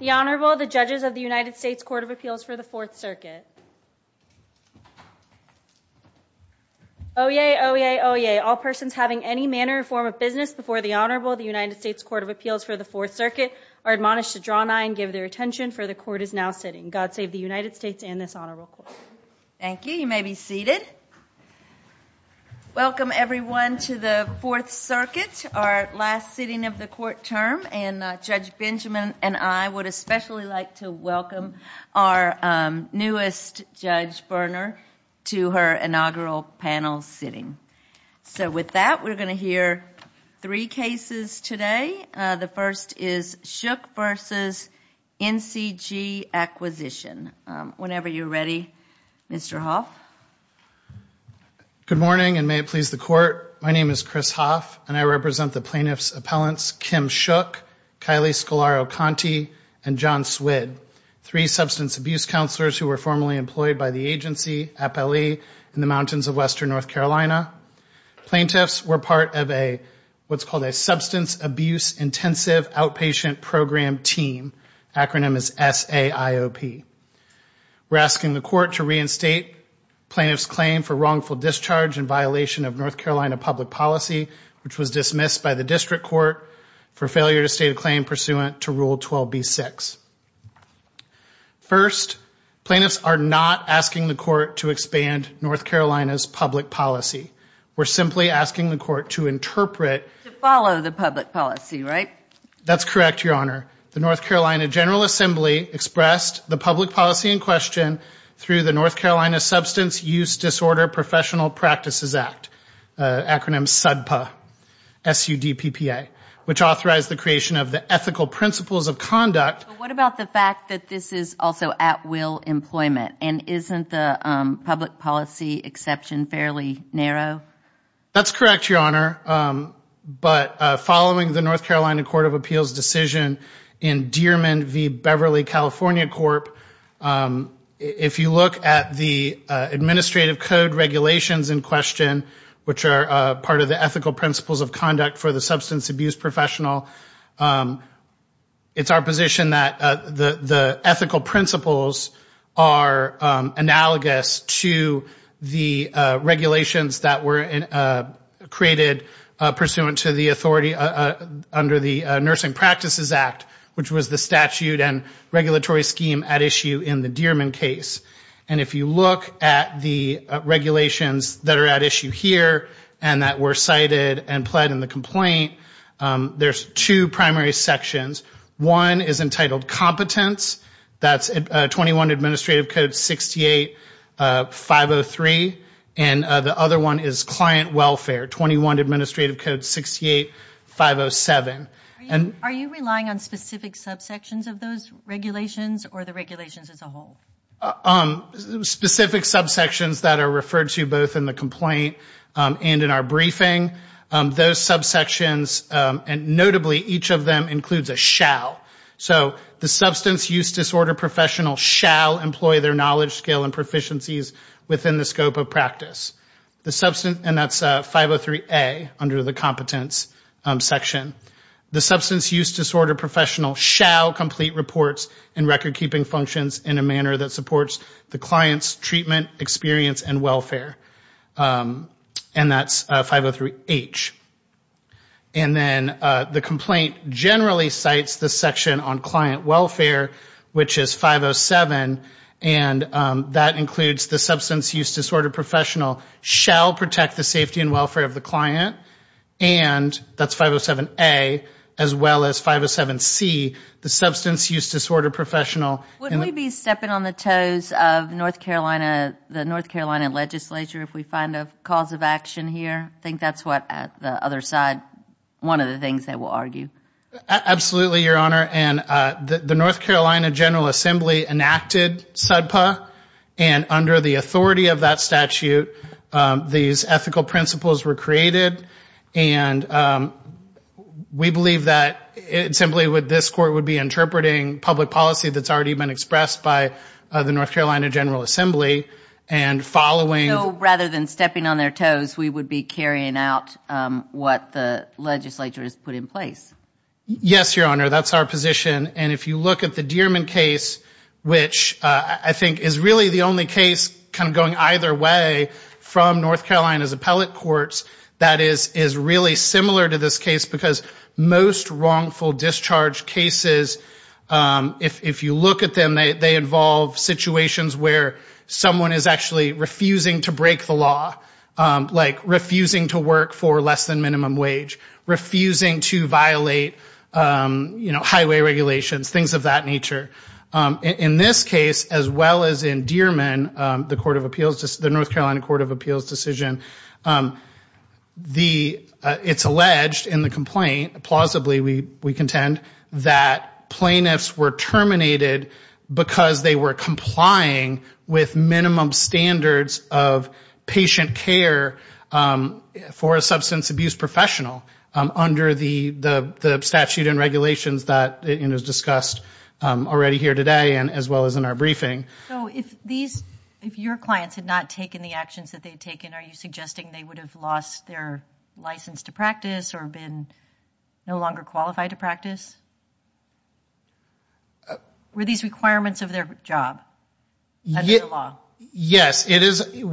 The Honorable, the Judges of the United States Court of Appeals for the Fourth Circuit. Oyez! Oyez! Oyez! All persons having any manner or form of business before the Honorable of the United States Court of Appeals for the Fourth Circuit are admonished to draw nigh and give their attention, for the Court is now sitting. God save the United States and this Honorable Court. Thank you. You may be seated. Welcome, everyone, to the Fourth Circuit, our last sitting of the court term, and Judge Benjamin and I would especially like to welcome our newest Judge Berner to her inaugural panel sitting. So with that, we're going to hear three cases today. The first is Shook v. NCG Acquisition. Whenever you're ready, Mr. Hoff. Good morning, and may it please the Court. My name is Chris Hoff, and I represent the plaintiffs' appellants, Kim Shook, Kylie Scolaro-Conti, and John Swid, three substance abuse counselors who were formerly employed by the agency, APLE, in the mountains of Western North Carolina. Plaintiffs were part of what's called a Substance Abuse Intensive Outpatient Program Team, acronym is SAIOP. We're asking the Court to reinstate plaintiff's claim for wrongful discharge in violation of North Carolina public policy, which was dismissed by the district court for failure to state a claim pursuant to Rule 12b-6. First, plaintiffs are not asking the Court to expand North Carolina's public policy. We're simply asking the Court to interpret. To follow the public policy, right? That's correct, Your Honor. The North Carolina General Assembly expressed the public policy in question through the North Carolina Substance Use Disorder Professional Practices Act, acronym SUDPA, S-U-D-P-P-A, which authorized the creation of the ethical principles of conduct. But what about the fact that this is also at-will employment? And isn't the public policy exception fairly narrow? That's correct, Your Honor. But following the North Carolina Court of Appeals decision in Dearman v. Beverly, California Corp., if you look at the administrative code regulations in question, which are part of the ethical principles of conduct for the substance abuse professional, it's our position that the ethical principles are analogous to the regulations that were created pursuant to the authority under the Nursing Practices Act, which was the statute and regulatory scheme at issue in the Dearman case. And if you look at the regulations that are at issue here and that were cited and pled in the complaint, there's two primary sections. One is entitled Competence. That's 21 Administrative Code 68-503. And the other one is Client Welfare, 21 Administrative Code 68-507. Are you relying on specific subsections of those regulations or the regulations as a whole? Specific subsections that are referred to both in the complaint and in our briefing, those subsections, and notably each of them includes a shall. The substance use disorder professional shall complete reports and record-keeping functions in a manner that supports the client's treatment, experience, and welfare. And that's 503H. And then the complaint generally cites the section on client welfare, which is 507. And that includes the substance use disorder professional shall protect the safety and welfare of the client. And that's 507A, as well as 507C, the substance use disorder professional. Wouldn't we be stepping on the toes of the North Carolina legislature if we find a cause of action here? I think that's what the other side, one of the things they will argue. Absolutely, Your Honor. And the North Carolina General Assembly enacted SUDPA. And under the authority of that statute, these ethical principles were created. And we believe that simply this court would be interpreting public policy that's already been expressed by the North Carolina General Assembly. So rather than stepping on their toes, we would be carrying out what the legislature has put in place? Yes, Your Honor. That's our position. And if you look at the Dearman case, which I think is really the only case kind of going either way from North Carolina's appellate courts, that is really similar to this case. Because most wrongful discharge cases, if you look at them, they involve situations where someone is actually refusing to break the law, like refusing to work for less than minimum wage, refusing to violate highway regulations, things of that nature. In this case, as well as in Dearman, the North Carolina Court of Appeals decision, it's alleged in the complaint, plausibly we contend, that plaintiffs were terminated because they were complying with minimum standards of patient care for a substance abuse professional. Under the statute and regulations that is discussed already here today, as well as in our briefing. So if your clients had not taken the actions that they had taken, are you suggesting they would have lost their license to practice or been no longer qualified to practice? Were these requirements of their job? Yes, it is.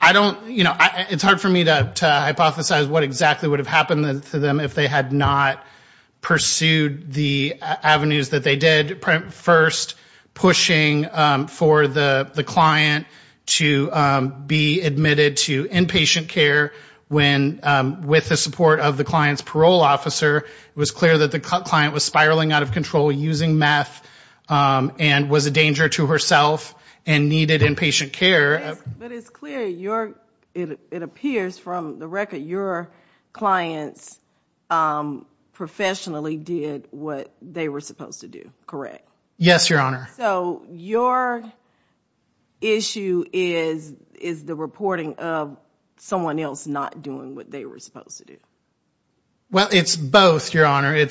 I don't, you know, it's hard for me to hypothesize what exactly would have happened to them if they had not pursued the avenues that they did. First, pushing for the client to be admitted to inpatient care when, with the support of the client's parole officer, it was clear that the client was spiraling out of control, using meth, and was a danger to herself and needed inpatient care. But it's clear, it appears from the record, your clients professionally did what they were supposed to do, correct? Yes, Your Honor. So your issue is the reporting of someone else not doing what they were supposed to do? Well, it's both, Your Honor.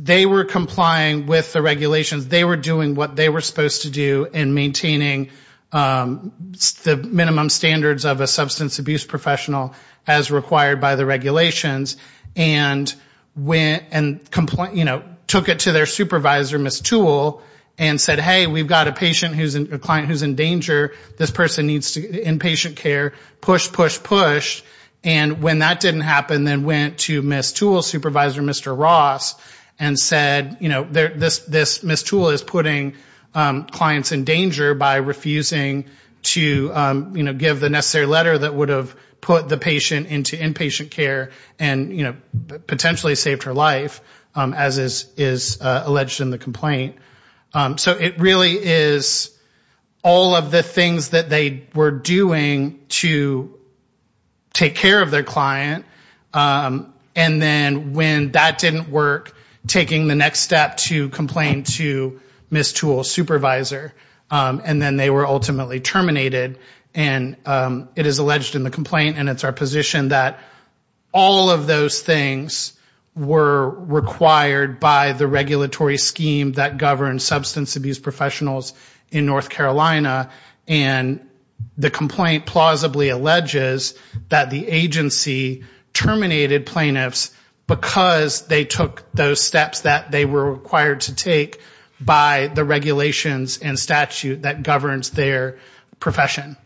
They were complying with the regulations. They were doing what they were supposed to do in maintaining the minimum standards of a substance abuse professional as required by the regulations. And took it to their supervisor, Ms. Toole, and said, hey, we've got a client who's in danger. This person needs inpatient care. Push, push, push. And when that didn't happen, then went to Ms. Toole's supervisor, Mr. Ross, and said, you know, Ms. Toole is putting clients in danger by refusing to, you know, give the necessary letter that would have put the patient into inpatient care and, you know, potentially saved her life, as is alleged in the complaint. So it really is all of the things that they were doing to take care of their client, and then when that didn't work, taking the next step to complain to Ms. Toole's supervisor. And then they were ultimately terminated. And it is alleged in the complaint, and it's our position, that all of those things were required by the regulatory scheme that governs substance abuse professionals in North Carolina. And the complaint plausibly alleges that the agency terminated plaintiffs because they took those steps that they were required to take by the regulations and statute that governs their profession.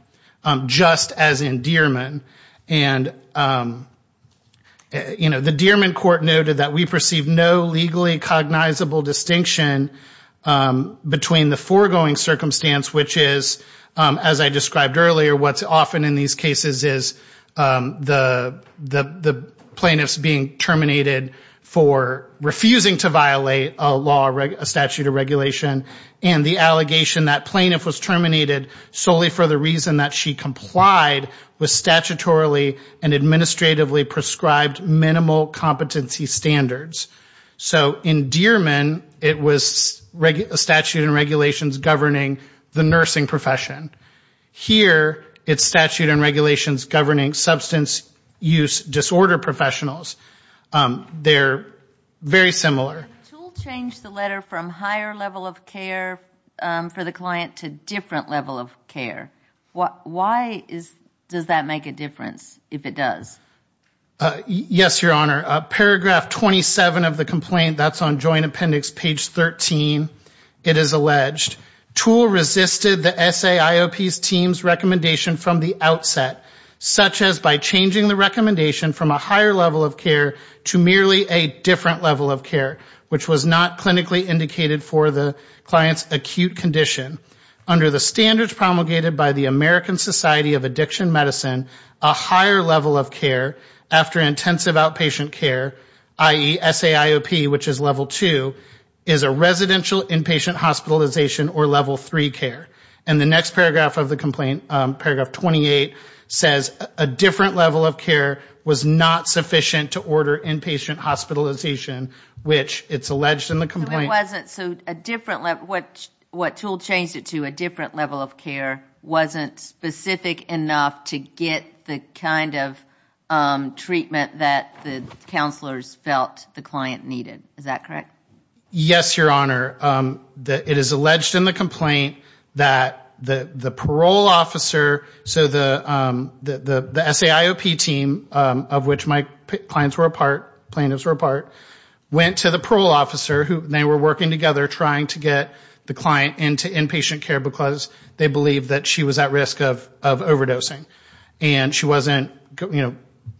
Just as in Dierman. And, you know, the Dierman court noted that we perceive no legally cognizable distinction between the foregoing circumstance, which is, as I described earlier, what's often in these cases is the plaintiffs being terminated for refusing to violate a law, a statute of regulation. And the allegation that plaintiff was terminated solely for the reason that she complied with statutorily and administratively prescribed minimal competency standards. So in Dierman, it was a statute and regulations governing the nursing profession. Here, it's statute and regulations governing substance use disorder professionals. They're very similar. If TOOL changed the letter from higher level of care for the client to different level of care, why does that make a difference, if it does? Yes, Your Honor. Paragraph 27 of the complaint, that's on Joint Appendix page 13, it is alleged, TOOL resisted the SAIOP's team's recommendation from the outset, such as by changing the recommendation from a higher level of care to merely a different level of care, which was not clinically indicated for the client's acute condition. Under the standards promulgated by the American Society of Addiction Medicine, a higher level of care after intensive outpatient care, i.e. SAIOP, which is level 2, is a residential inpatient hospitalization or level 3 care. And the next paragraph of the complaint, paragraph 28, says a different level of care was not sufficient to order inpatient hospitalization, which it's alleged in the complaint. So what TOOL changed it to, a different level of care, wasn't specific enough to get the kind of treatment that the counselors felt the client needed. Is that correct? Yes, Your Honor. It is alleged in the complaint that the parole officer, so the SAIOP team, of which my clients were a part, plaintiffs were a part, went to the parole officer. They were working together trying to get the client into inpatient care because they believed that she was at risk of overdosing and she wasn't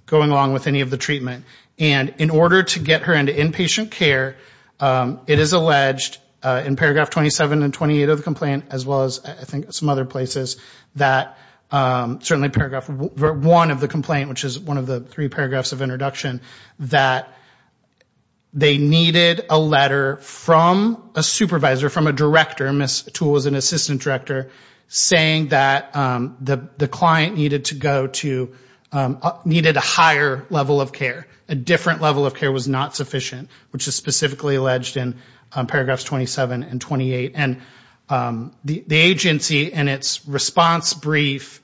going along with any of the treatment. And in order to get her into inpatient care, it is alleged in paragraph 27 and 28 of the complaint, as well as I think some other places, that certainly paragraph 1 of the complaint, which is one of the three paragraphs of introduction, that they needed a letter from a supervisor, from a director, Ms. TOOL was an assistant director, saying that the client needed to go to, needed a higher level of care. A different level of care was not sufficient, which is specifically alleged in paragraphs 27 and 28. And the agency in its response brief...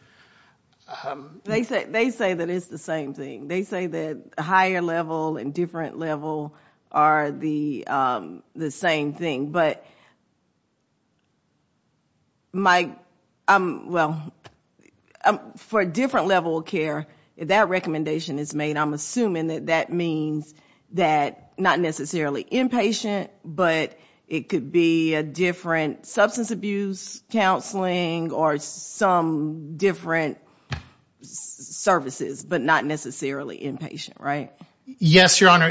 They say that it's the same thing. They say that higher level and different level are the same thing. But for a different level of care, if that recommendation is made, I'm assuming that that means that not necessarily inpatient, but it could be a different substance abuse counseling or some different services, but not necessarily inpatient, right? Yes, Your Honor.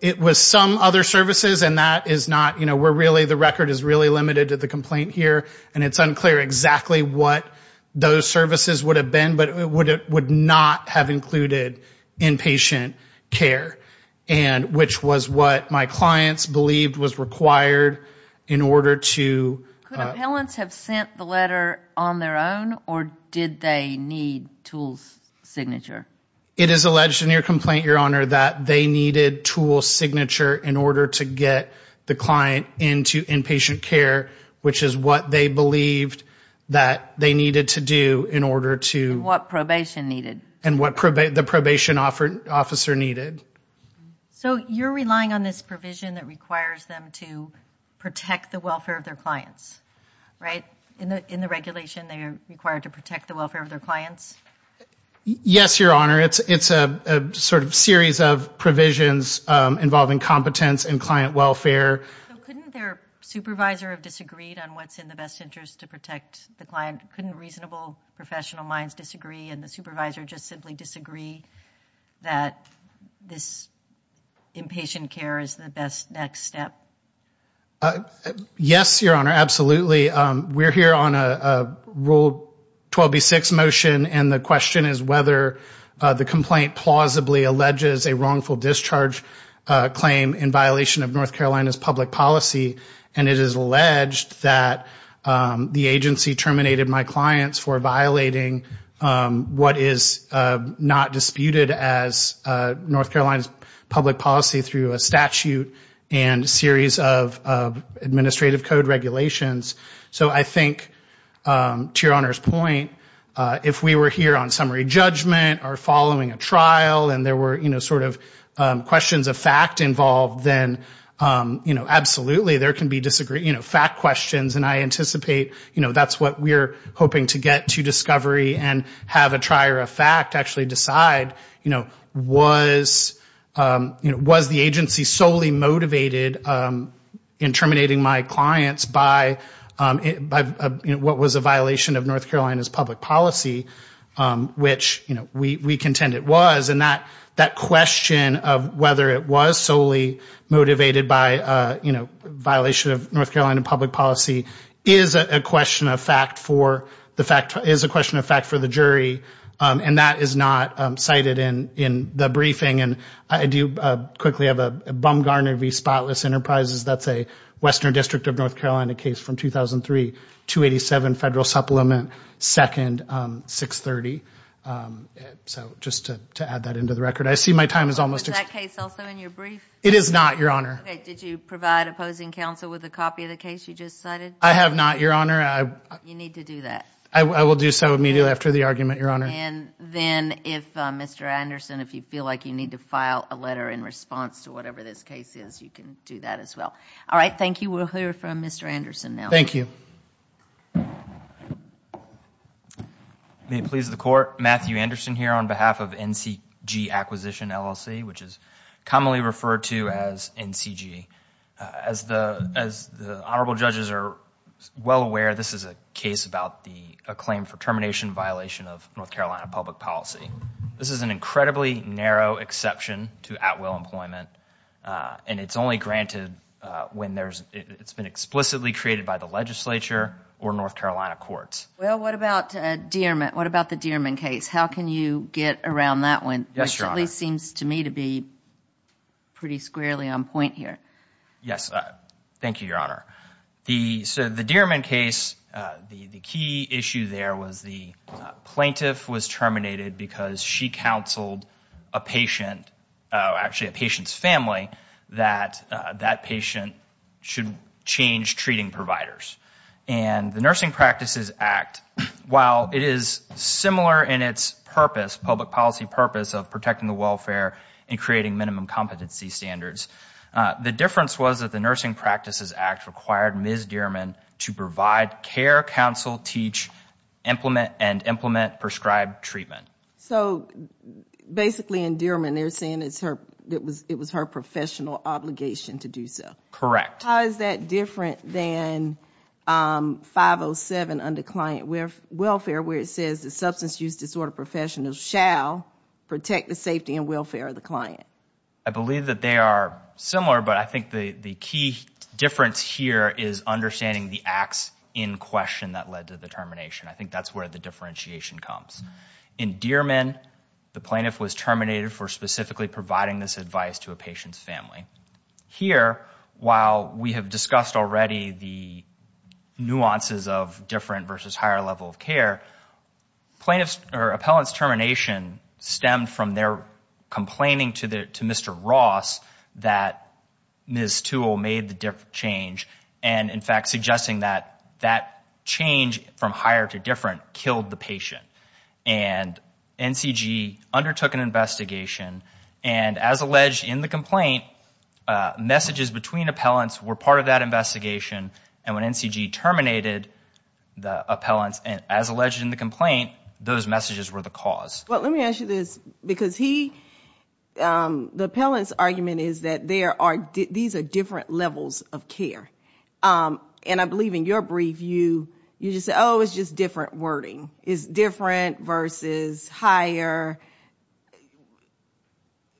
It was some other services, and that is not, you know, we're really, the record is really limited to the complaint here, and it's unclear exactly what those services would have been, but it would not have included inpatient care, which was what my clients believed was required in order to... Could appellants have sent the letter on their own, or did they need TOOL's signature? It is alleged in your complaint, Your Honor, that they needed TOOL's signature in order to get the client into inpatient care, which is what they believed that they needed to do in order to... And what probation needed. And what the probation officer needed. So you're relying on this provision that requires them to protect the welfare of their clients, right? In the regulation, they are required to protect the welfare of their clients? Yes, Your Honor. It's a sort of series of provisions involving competence and client welfare. So couldn't their supervisor have disagreed on what's in the best interest to protect the client? Couldn't reasonable professional minds disagree, and the supervisor just simply disagree that this inpatient care is the best next step? Yes, Your Honor, absolutely. We're here on a Rule 12b-6 motion, and the question is whether the complaint plausibly alleges a wrongful discharge claim in violation of North Carolina's public policy, and it is alleged that the agency terminated my client. So I think to Your Honor's point, if we were here on summary judgment or following a trial, and there were sort of questions of fact involved, then absolutely, there can be fact questions, and I anticipate that's what we're looking for. So I think to Your Honor's point, if we were here on summary judgment or following a trial, and there were questions of fact involved, then absolutely, there can be fact questions, and I anticipate that's what we're looking for. The fact is a question of fact for the jury, and that is not cited in the briefing, and I do quickly have a Bumgarner v. Spotless Enterprises. That's a Western District of North Carolina case from 2003, 287 Federal Supplement, 2nd, 630. So just to add that into the record, I see my time is almost up. Is that case also in your brief? It is not, Your Honor. Okay, did you provide opposing counsel with a copy of the case you just cited? I have not, Your Honor. You need to do that. I will do so immediately after the argument, Your Honor. And then if Mr. Anderson, if you feel like you need to file a letter in response to whatever this case is, you can do that as well. All right, thank you. We'll hear from Mr. Anderson now. May it please the Court, Matthew Anderson here on behalf of NCG Acquisition LLC, which is commonly referred to as NCG. As the honorable judges are well aware, this is a case about a claim for termination violation of North Carolina public policy. This is an incredibly narrow exception to at-will employment, and it's only granted when it's been explicitly created by the legislature or North Carolina courts. Well, what about the Dierman case? How can you get around that one? Which at least seems to me to be pretty squarely on point here. Yes, thank you, Your Honor. So the Dierman case, the key issue there was the plaintiff was terminated because she counseled a patient, actually a patient's family, that that patient should change treating providers. And the Nursing Practices Act, while it is similar in its purpose, public policy purpose, of protecting the welfare and creating minimum competency standards, the difference was that the Nursing Practices Act required Ms. Dierman to provide care, counsel, teach, implement, and implement prescribed treatment. So basically in Dierman they're saying it was her professional obligation to do so. Correct. How is that different than 507 under client welfare where it says the substance use disorder professionals shall protect the safety and welfare of the client? I believe that they are similar, but I think the key difference here is understanding the acts in question that led to the termination. I think that's where the differentiation comes. In Dierman, the plaintiff was terminated for specifically providing this advice to a patient's family. Here, while we have discussed already the nuances of different versus higher level of care, plaintiff's or appellant's termination stemmed from their complaining to Mr. Ross that Ms. Toole made the change, and in fact suggesting that that change from higher to different killed the patient. And NCG undertook an investigation, and as alleged in the complaint, messages between appellants were part of that investigation, and when NCG terminated the appellants, as alleged in the complaint, those messages were the cause. Let me ask you this, because the appellant's argument is that these are different levels of care. And I believe in your brief, you just said, oh, it's just different wording. It's different versus higher.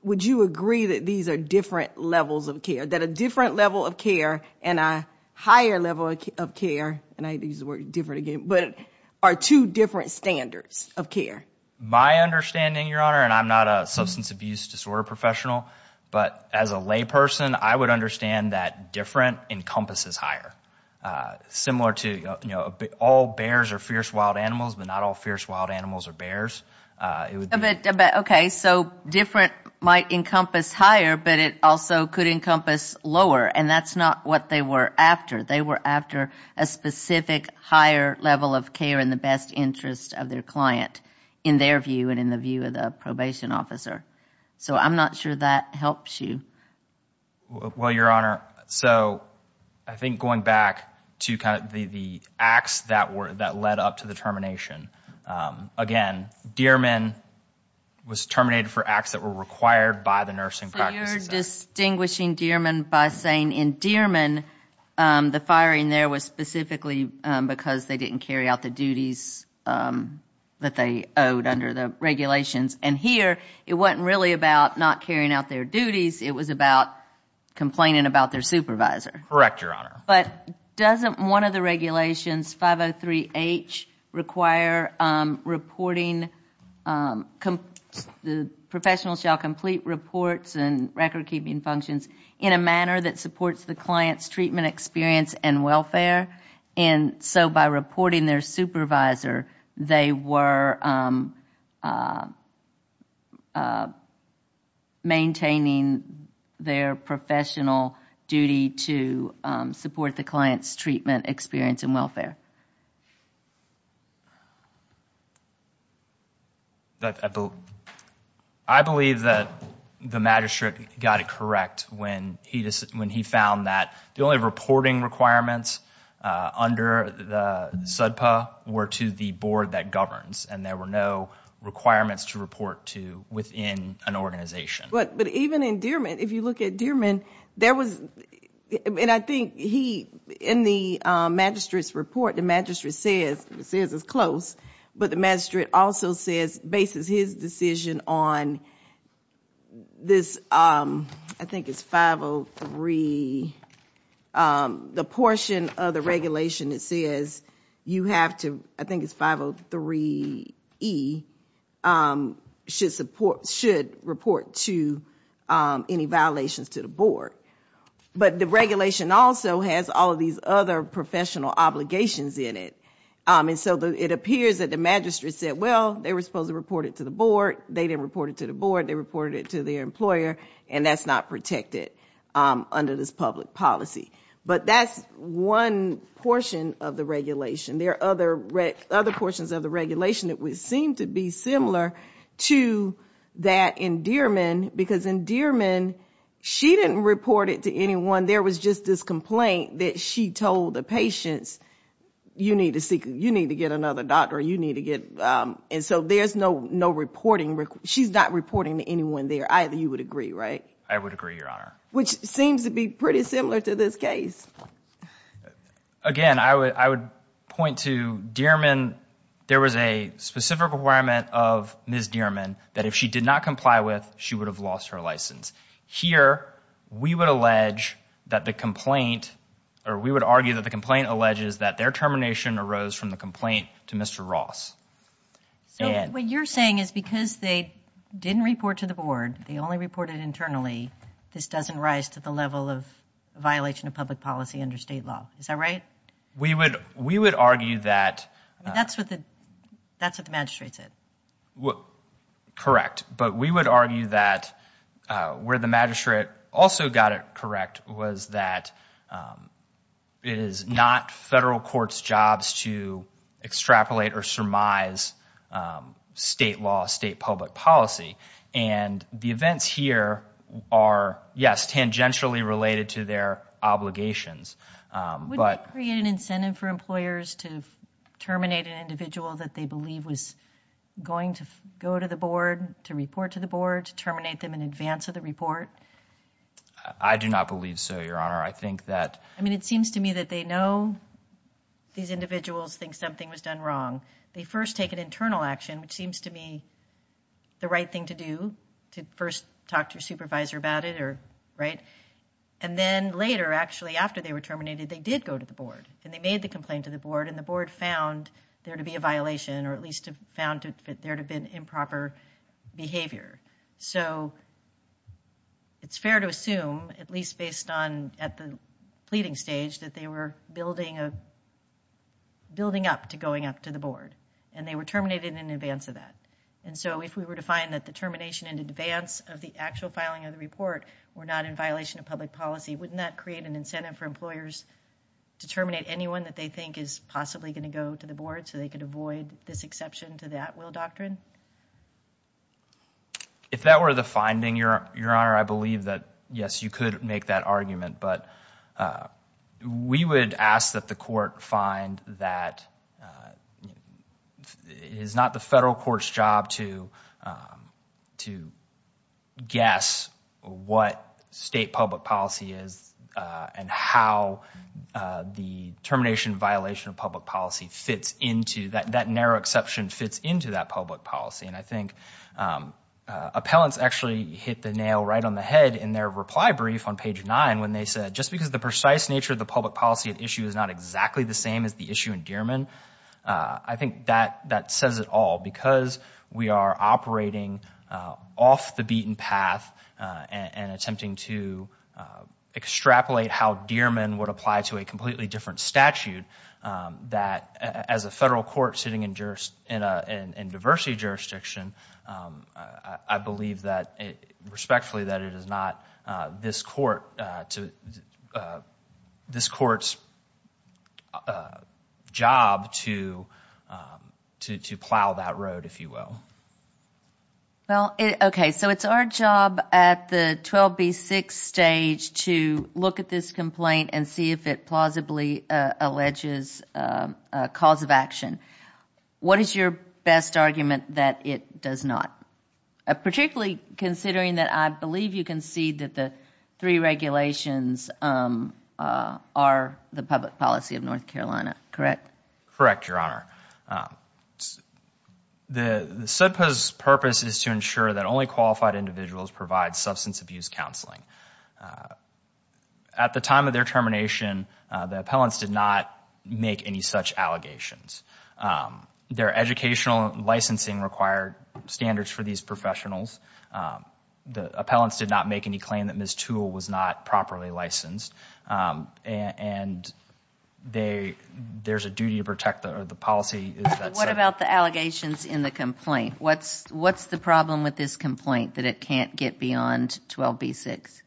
Would you agree that these are different levels of care, that a different level of care and a higher level of care, and I used the word different again, but are two different standards of care? My understanding, Your Honor, and I'm not a substance abuse disorder professional, but as a lay person, I would understand that different encompasses different levels of care. Different encompasses higher, similar to all bears are fierce wild animals, but not all fierce wild animals are bears. Okay, so different might encompass higher, but it also could encompass lower, and that's not what they were after. They were after a specific higher level of care in the best interest of their client, in their view and in the view of the probation officer. So I'm not sure that helps you. Well, Your Honor, so I think going back to kind of the acts that led up to the termination. Again, Dearman was terminated for acts that were required by the nursing practices act. So you're distinguishing Dearman by saying in Dearman, the firing there was specifically because they didn't carry out the duties that they owed under the regulations. And here, it wasn't really about not carrying out their duties, it was about complaining about their supervisor. Correct, Your Honor. But doesn't one of the regulations, 503H, require reporting, the professional shall complete reports and record keeping functions in a manner that supports the client's treatment experience and welfare? And so by reporting their supervisor, they were maintaining their professional duty to support the client's treatment experience and welfare. I believe that the magistrate got it correct when he found that the only reporting requirements, the reporting requirements, under the SUDPA were to the board that governs and there were no requirements to report to within an organization. But even in Dearman, if you look at Dearman, there was, and I think he, in the magistrate's report, the magistrate says, it says it's close. But the magistrate also says, bases his decision on this, I think it's 503, the portion of the regulations that were required under the SUDPA. The regulation that says you have to, I think it's 503E, should report to any violations to the board. But the regulation also has all of these other professional obligations in it. And so it appears that the magistrate said, well, they were supposed to report it to the board, they didn't report it to the board, they reported it to their employer, and that's not protected under this public policy. But that's one portion of the regulation. There are other portions of the regulation that would seem to be similar to that in Dearman, because in Dearman, she didn't report it to anyone, there was just this complaint that she told the patients, you need to get another doctor, you need to get, and so there's no reporting, she's not reporting to anyone there, either, you would agree, right? I would agree, Your Honor. Again, I would point to Dearman, there was a specific requirement of Ms. Dearman that if she did not comply with, she would have lost her license. Here, we would allege that the complaint, or we would argue that the complaint alleges that their termination arose from the complaint to Mr. Ross. So what you're saying is because they didn't report to the board, they only reported internally, this doesn't rise to the level of violation of public policy under state law, is that right? We would argue that... That's what the magistrate said. Correct, but we would argue that where the magistrate also got it correct was that it is not federal court's jobs to extrapolate or surmise state law, state public policy, and the events here are, yes, tangentially related to their obligations. Wouldn't that create an incentive for employers to terminate an individual that they believe was going to go to the board, to report to the board, to terminate them in advance of the report? I do not believe so, Your Honor. I mean, it seems to me that they know these individuals think something was done wrong. They first take an internal action, which seems to me the right thing to do, to first talk to your supervisor about it, right? And then later, actually, after they were terminated, they did go to the board, and they made the complaint to the board, and the board found there to be a violation, or at least found there to have been improper behavior. So it's fair to assume, at least based on at the pleading stage, that they were building up to going up to the board, and they were terminated in advance of that. And so, if we were to find that the termination in advance of the actual filing of the report were not in violation of public policy, wouldn't that create an incentive for employers to terminate anyone that they think is possibly going to go to the board, so they could avoid this exception to the at-will doctrine? If that were the finding, Your Honor, I believe that, yes, you could make that argument, but we would ask that the court find that it is not the federal court's job to make that argument. It is the court's job to guess what state public policy is, and how the termination violation of public policy fits into, that narrow exception fits into that public policy. And I think appellants actually hit the nail right on the head in their reply brief on page 9, when they said, just because the precise nature of the public policy at issue is not exactly the same as the issue in Dearman, I think that says it all. Because we are operating off the beaten path and attempting to extrapolate how Dearman would apply to a completely different statute, that as a federal court sitting in diversity jurisdiction, I believe respectfully that it is not this court's job to plow that road. Well, okay, so it is our job at the 12B6 stage to look at this complaint and see if it plausibly alleges a cause of action. What is your best argument that it does not? Particularly considering that I believe you can see that the three regulations are the public policy of North Carolina, correct? Correct, Your Honor. The SUDPA's purpose is to ensure that only qualified individuals provide substance abuse counseling. At the time of their termination, the appellants did not make any such allegations. Their educational licensing required standards for these professionals. The appellants did not make any claim that Ms. Toole was not properly licensed. And there is a duty to protect the policy. What about the allegations in the complaint? What is the problem with this complaint that it cannot get beyond 12B6?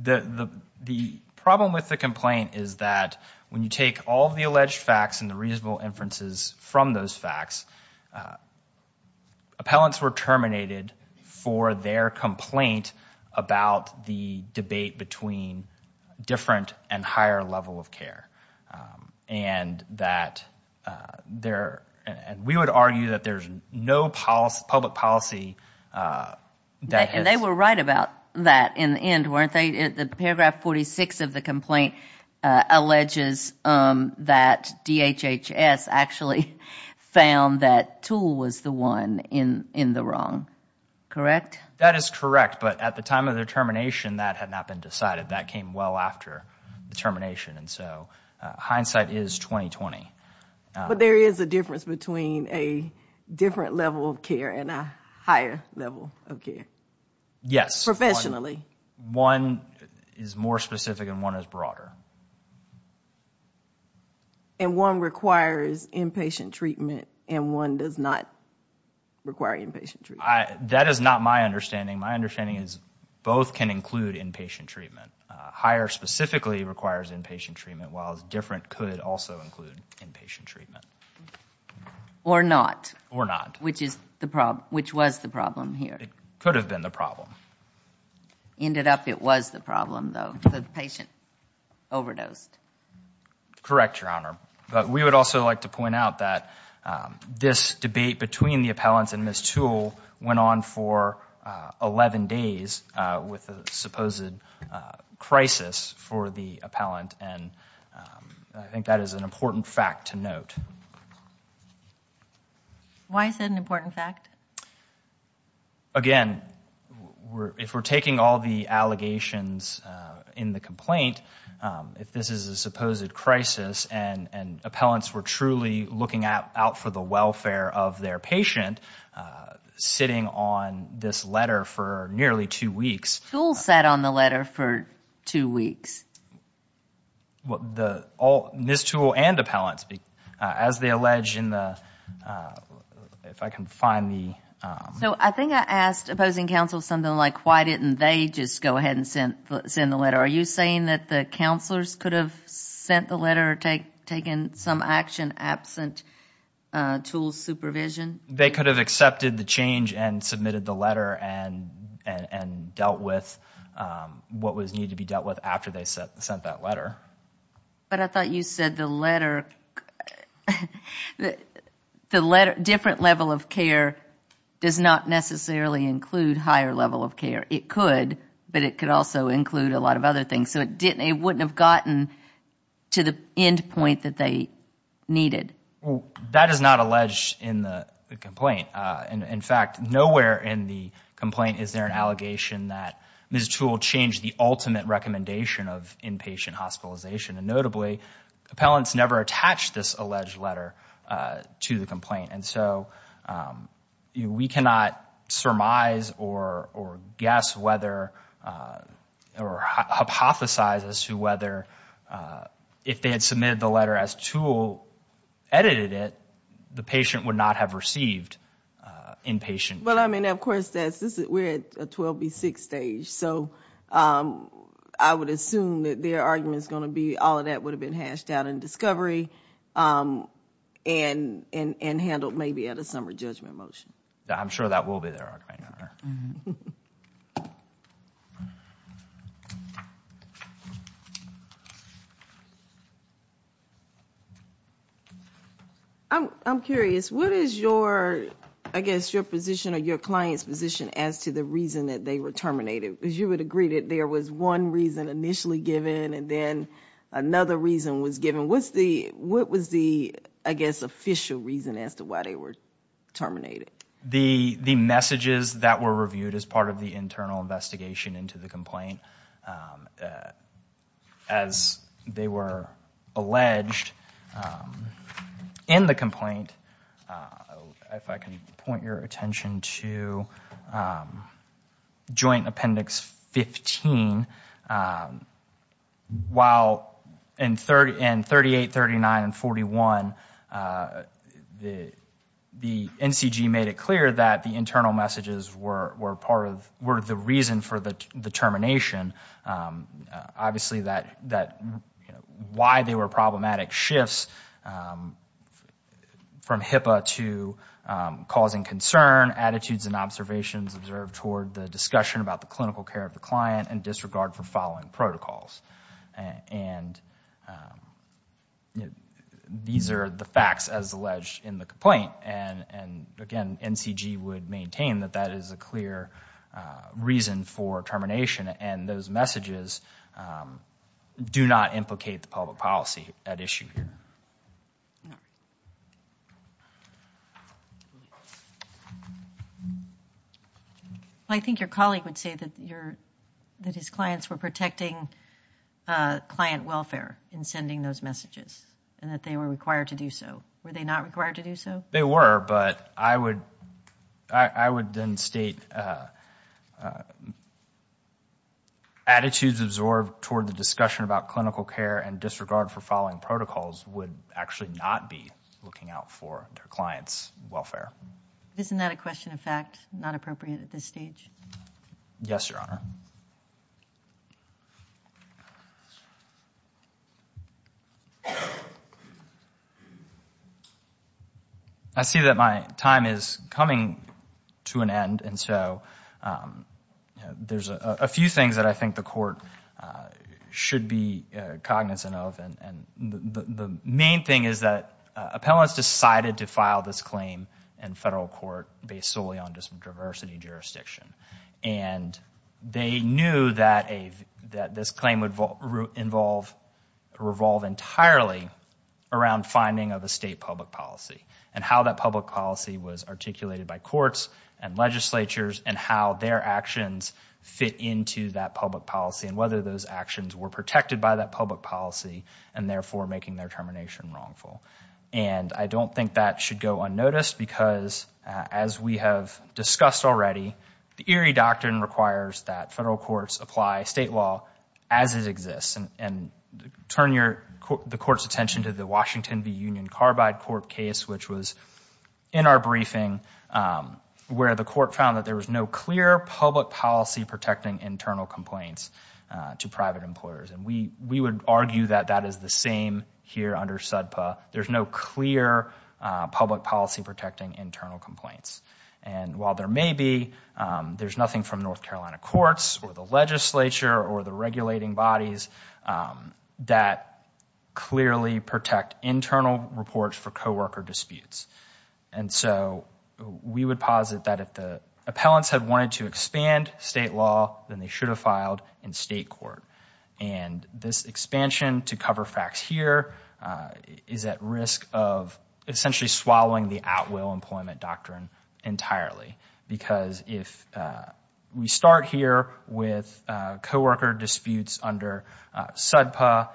The problem with the complaint is that when you take all of the alleged facts and the reasonable inferences from those facts, appellants were terminated for their complaint about the debate between the two. It was about a different and higher level of care. We would argue that there is no public policy. They were right about that in the end, weren't they? The paragraph 46 of the complaint alleges that DHHS actually found that Toole was the one in the wrong, correct? That is correct. But at the time of their termination, that had not been decided. That came well after the termination. And so hindsight is 20-20. But there is a difference between a different level of care and a higher level of care. Yes. Professionally. One is more specific and one is broader. And one requires inpatient treatment and one does not require inpatient treatment. That is not my understanding. My understanding is both can include inpatient treatment. Higher specifically requires inpatient treatment, while different could also include inpatient treatment. Or not. Or not. Which was the problem here. It could have been the problem. Ended up it was the problem, though. The patient overdosed. Correct, Your Honor. But we would also like to point out that this debate between the appellants and Ms. Toole went on for 11 days with a supposed crisis for the appellant. And I think that is an important fact to note. Why is that an important fact? Again, if we are taking all of the allegations in the complaint, if this is an important fact, then it is an important fact. But Ms. Toole went on as a supposed crisis and appellants were truly looking out for the welfare of their patient, sitting on this letter for nearly two weeks. Toole sat on the letter for two weeks? Ms. Toole and appellants. As they allege in the, if I can find the... So I think I asked opposing counsel something like why didn't they just go ahead and send the letter? Are you saying that the counselors could have sent the letter or taken some action absent Toole's supervision? They could have accepted the change and submitted the letter and dealt with what was needed to be dealt with after they sent that letter. But I thought you said the letter, different level of care does not necessarily include higher level of care. It could, but it could also include a lot of other things. So it wouldn't have gotten to the end point that they needed. That is not alleged in the complaint. In fact, nowhere in the complaint is there an allegation that Ms. Toole changed the ultimate recommendation of inpatient hospitalization. And notably, appellants never attached this alleged letter to the complaint. And so we cannot surmise or guess whether or hypothesize that Ms. Toole changed the letter. We cannot hypothesize as to whether, if they had submitted the letter as Toole edited it, the patient would not have received inpatient. Well, I mean, of course, we're at a 12B6 stage. So I would assume that their argument is going to be all of that would have been hashed out in discovery and handled maybe at a summer judgment motion. I'm sure that will be their argument. Thank you. I'm curious, what is your, I guess, your position or your client's position as to the reason that they were terminated? Because you would agree that there was one reason initially given and then another reason was given. What was the, I guess, official reason as to why they were terminated? The messages that were reviewed as part of the internal investigation into the complaint. As they were alleged in the complaint, if I can point your attention to Joint Appendix 15. While in 38, 39, and 41, the NCG made it clear that the internal messages were part of, were the reason for the termination. Obviously, why they were problematic shifts from HIPAA to causing concern, attitudes and observations observed toward the discussion about the clinical care of the client and disregard for following protocols. These are the facts as alleged in the complaint. Again, NCG would maintain that that is a clear reason for termination. Those messages do not implicate the public policy at issue. I think your colleague would say that his clients were protecting client welfare in sending those messages and that they were required to do so. Were they not required to do so? They were, but I would then state attitudes absorbed toward the discussion about clinical care and disregard for following protocols would actually not be looking out for their clients' welfare. Isn't that a question of fact, not appropriate at this stage? Yes, Your Honor. I see that my time is coming to an end. There are a few things that I think the Court should be cognizant of. The main thing is that appellants decided to file this claim in federal court based solely on diversity jurisdiction. They knew that this claim would revolve entirely around finding of a state public policy. How that public policy was articulated by courts and legislatures and how their actions fit into that public policy and whether those actions were protected by that public policy and therefore making their termination wrongful. I don't think that should go unnoticed because as we have discussed already, the Erie Doctrine requires that federal courts apply state law as it exists. Turn the Court's attention to the Washington v. Union Carbide Court case, which was in our briefing, where the Court found that there was no clear public policy protecting internal complaints to private employers. We would argue that that is the same here under SUDPA. There is no clear public policy protecting internal complaints. While there may be, there is nothing from North Carolina courts or the legislature or the regulating bodies that clearly protect internal reports for co-worker disputes. We would posit that if the appellants had wanted to expand state law, then they should have filed in state court. This expansion to cover facts here is at risk of essentially swallowing the at-will employment doctrine of the Court. We would argue that that is not the case entirely because if we start here with co-worker disputes under SUDPA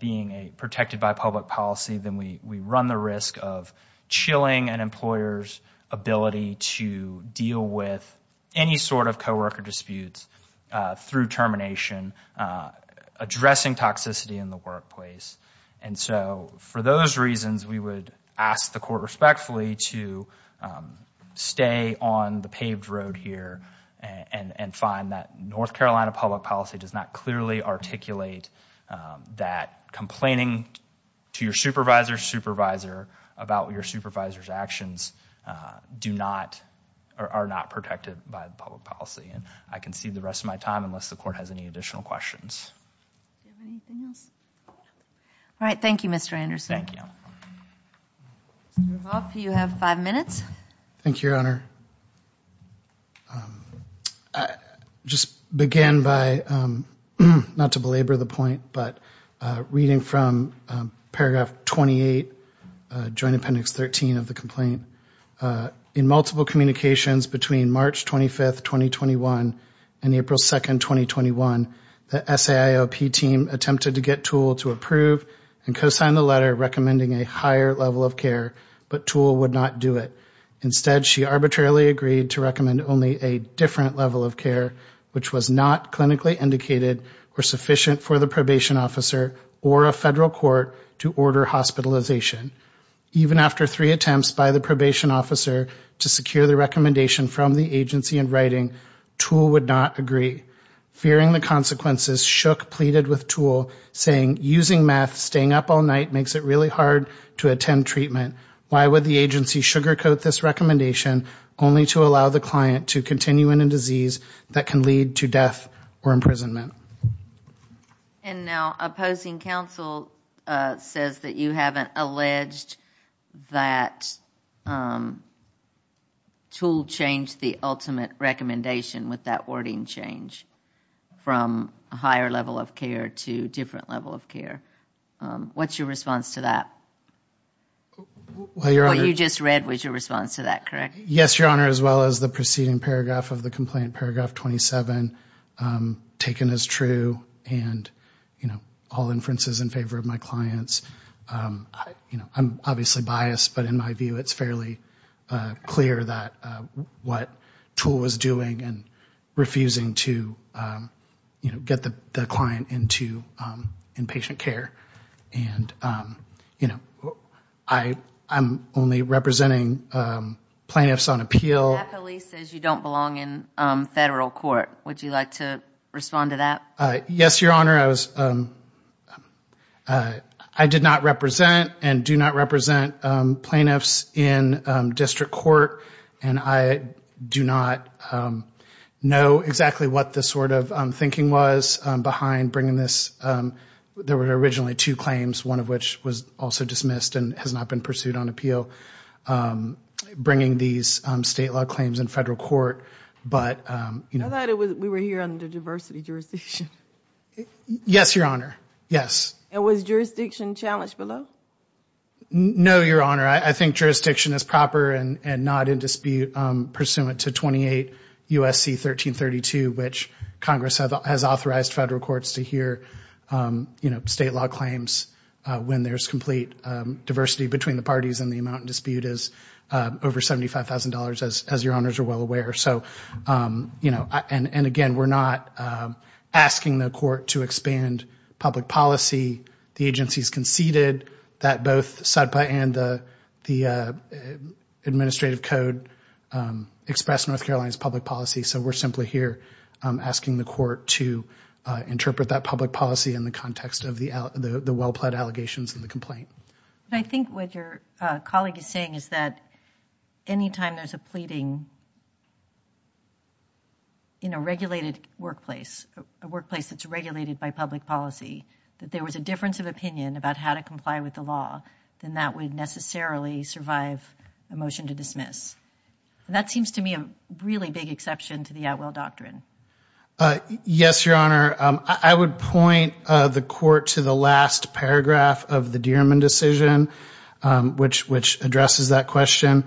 being protected by public policy, then we run the risk of chilling an employer's ability to deal with any sort of co-worker disputes through termination, addressing toxicity in the workplace. For those reasons, we would ask the Court respectfully to stay on the paved road here and find that North Carolina public policy does not clearly articulate that complaining to your supervisor's supervisor about your supervisor's actions are not protected by public policy. I can cede the rest of my time unless the Court has any additional questions. Thank you, Mr. Anderson. You have five minutes. Thank you, Your Honor. I will begin by reading from paragraph 28, joint appendix 13 of the complaint. In multiple communications between March 25, 2021 and April 2, 2021, the SAIOP team attempted to get TOOL to approve the complaint. They reported that TOOL had not approved the complaint and co-signed the letter recommending a higher level of care, but TOOL would not do it. Instead, she arbitrarily agreed to recommend only a different level of care, which was not clinically indicated or sufficient for the probation officer or a federal court to order hospitalization. Even after three attempts by the probation officer to secure the recommendation from the agency in writing, TOOL would not agree. Fearing the consequences, Shook pleaded with TOOL saying, using meth, staying up all night makes it really hard to attend treatment. Why would the agency sugarcoat this recommendation only to allow the client to continue in a disease that can lead to death or imprisonment? And now opposing counsel says that you haven't alleged that TOOL changed the ultimate recommendation with that wording change. What is your response to that? Yes, Your Honor, as well as the preceding paragraph of the complaint, paragraph 27, taken as true and all inferences in favor of my clients. I'm obviously biased, but in my view, it's fairly clear that what TOOL was doing and refusing to change the recommendation was a mistake. It was a mistake to get the client into inpatient care and I'm only representing plaintiffs on appeal. That police says you don't belong in federal court. Would you like to respond to that? Yes, Your Honor, I did not represent and do not represent plaintiffs in district court and I do not know exactly what this was about. I don't know what the sort of thinking was behind bringing this, there were originally two claims, one of which was also dismissed and has not been pursued on appeal, bringing these state law claims in federal court. I thought we were here under diversity jurisdiction. Yes, Your Honor, yes. And was jurisdiction challenged below? No, Your Honor, I think jurisdiction is proper and not in dispute pursuant to 28 U.S.C. 1332, which is the statute of limitations. Congress has authorized federal courts to hear state law claims when there's complete diversity between the parties and the amount in dispute is over $75,000, as Your Honors are well aware. And again, we're not asking the court to expand public policy. The agency's conceded that both SUDPA and the administrative code express North Carolina's public policy, so we're simply here asking the court to expand public policy. We're simply asking the court to interpret that public policy in the context of the well-pled allegations in the complaint. I think what your colleague is saying is that any time there's a pleading in a regulated workplace, a workplace that's regulated by public policy, that there was a difference of opinion about how to comply with the law, then that would necessarily survive a motion to dismiss. That seems to me a really big exception to the Atwell doctrine. Yes, Your Honor, I would point the court to the last paragraph of the Dierman decision, which addresses that question.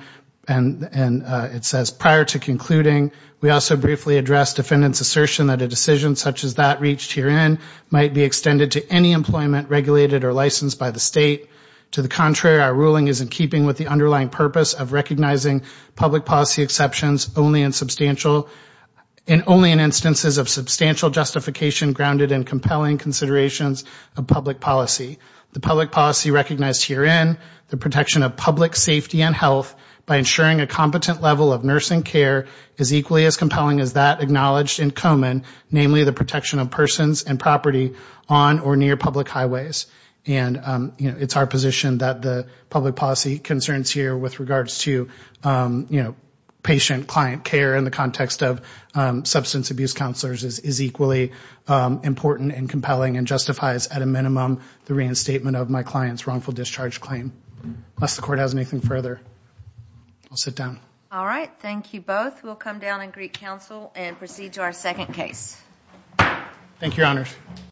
And it says, prior to concluding, we also briefly addressed defendant's assertion that a decision such as that reached herein might be extended to any employment regulated or licensed by the state. To the contrary, our ruling is in keeping with the underlying purpose of recognizing public policy exceptions only in instances of substantial discrimination. And to the contrary, our ruling is in keeping with the underlying purpose of recognizing public policy exceptions only in instances of substantial justification grounded in compelling considerations of public policy. The public policy recognized herein, the protection of public safety and health by ensuring a competent level of nursing care is equally as compelling as that acknowledged in Komen, namely the protection of persons and property on or near public highways. And it's our position that the public policy concerns here with regards to patient-client care in the context of substance abuse counselors is equally as compelling as that acknowledged in Komen. And it's our position that the public policy concerns here with regards to patient-client care in the context of substance abuse counselors is equally as compelling as that acknowledged in Komen. Unless the court has anything further, I'll sit down.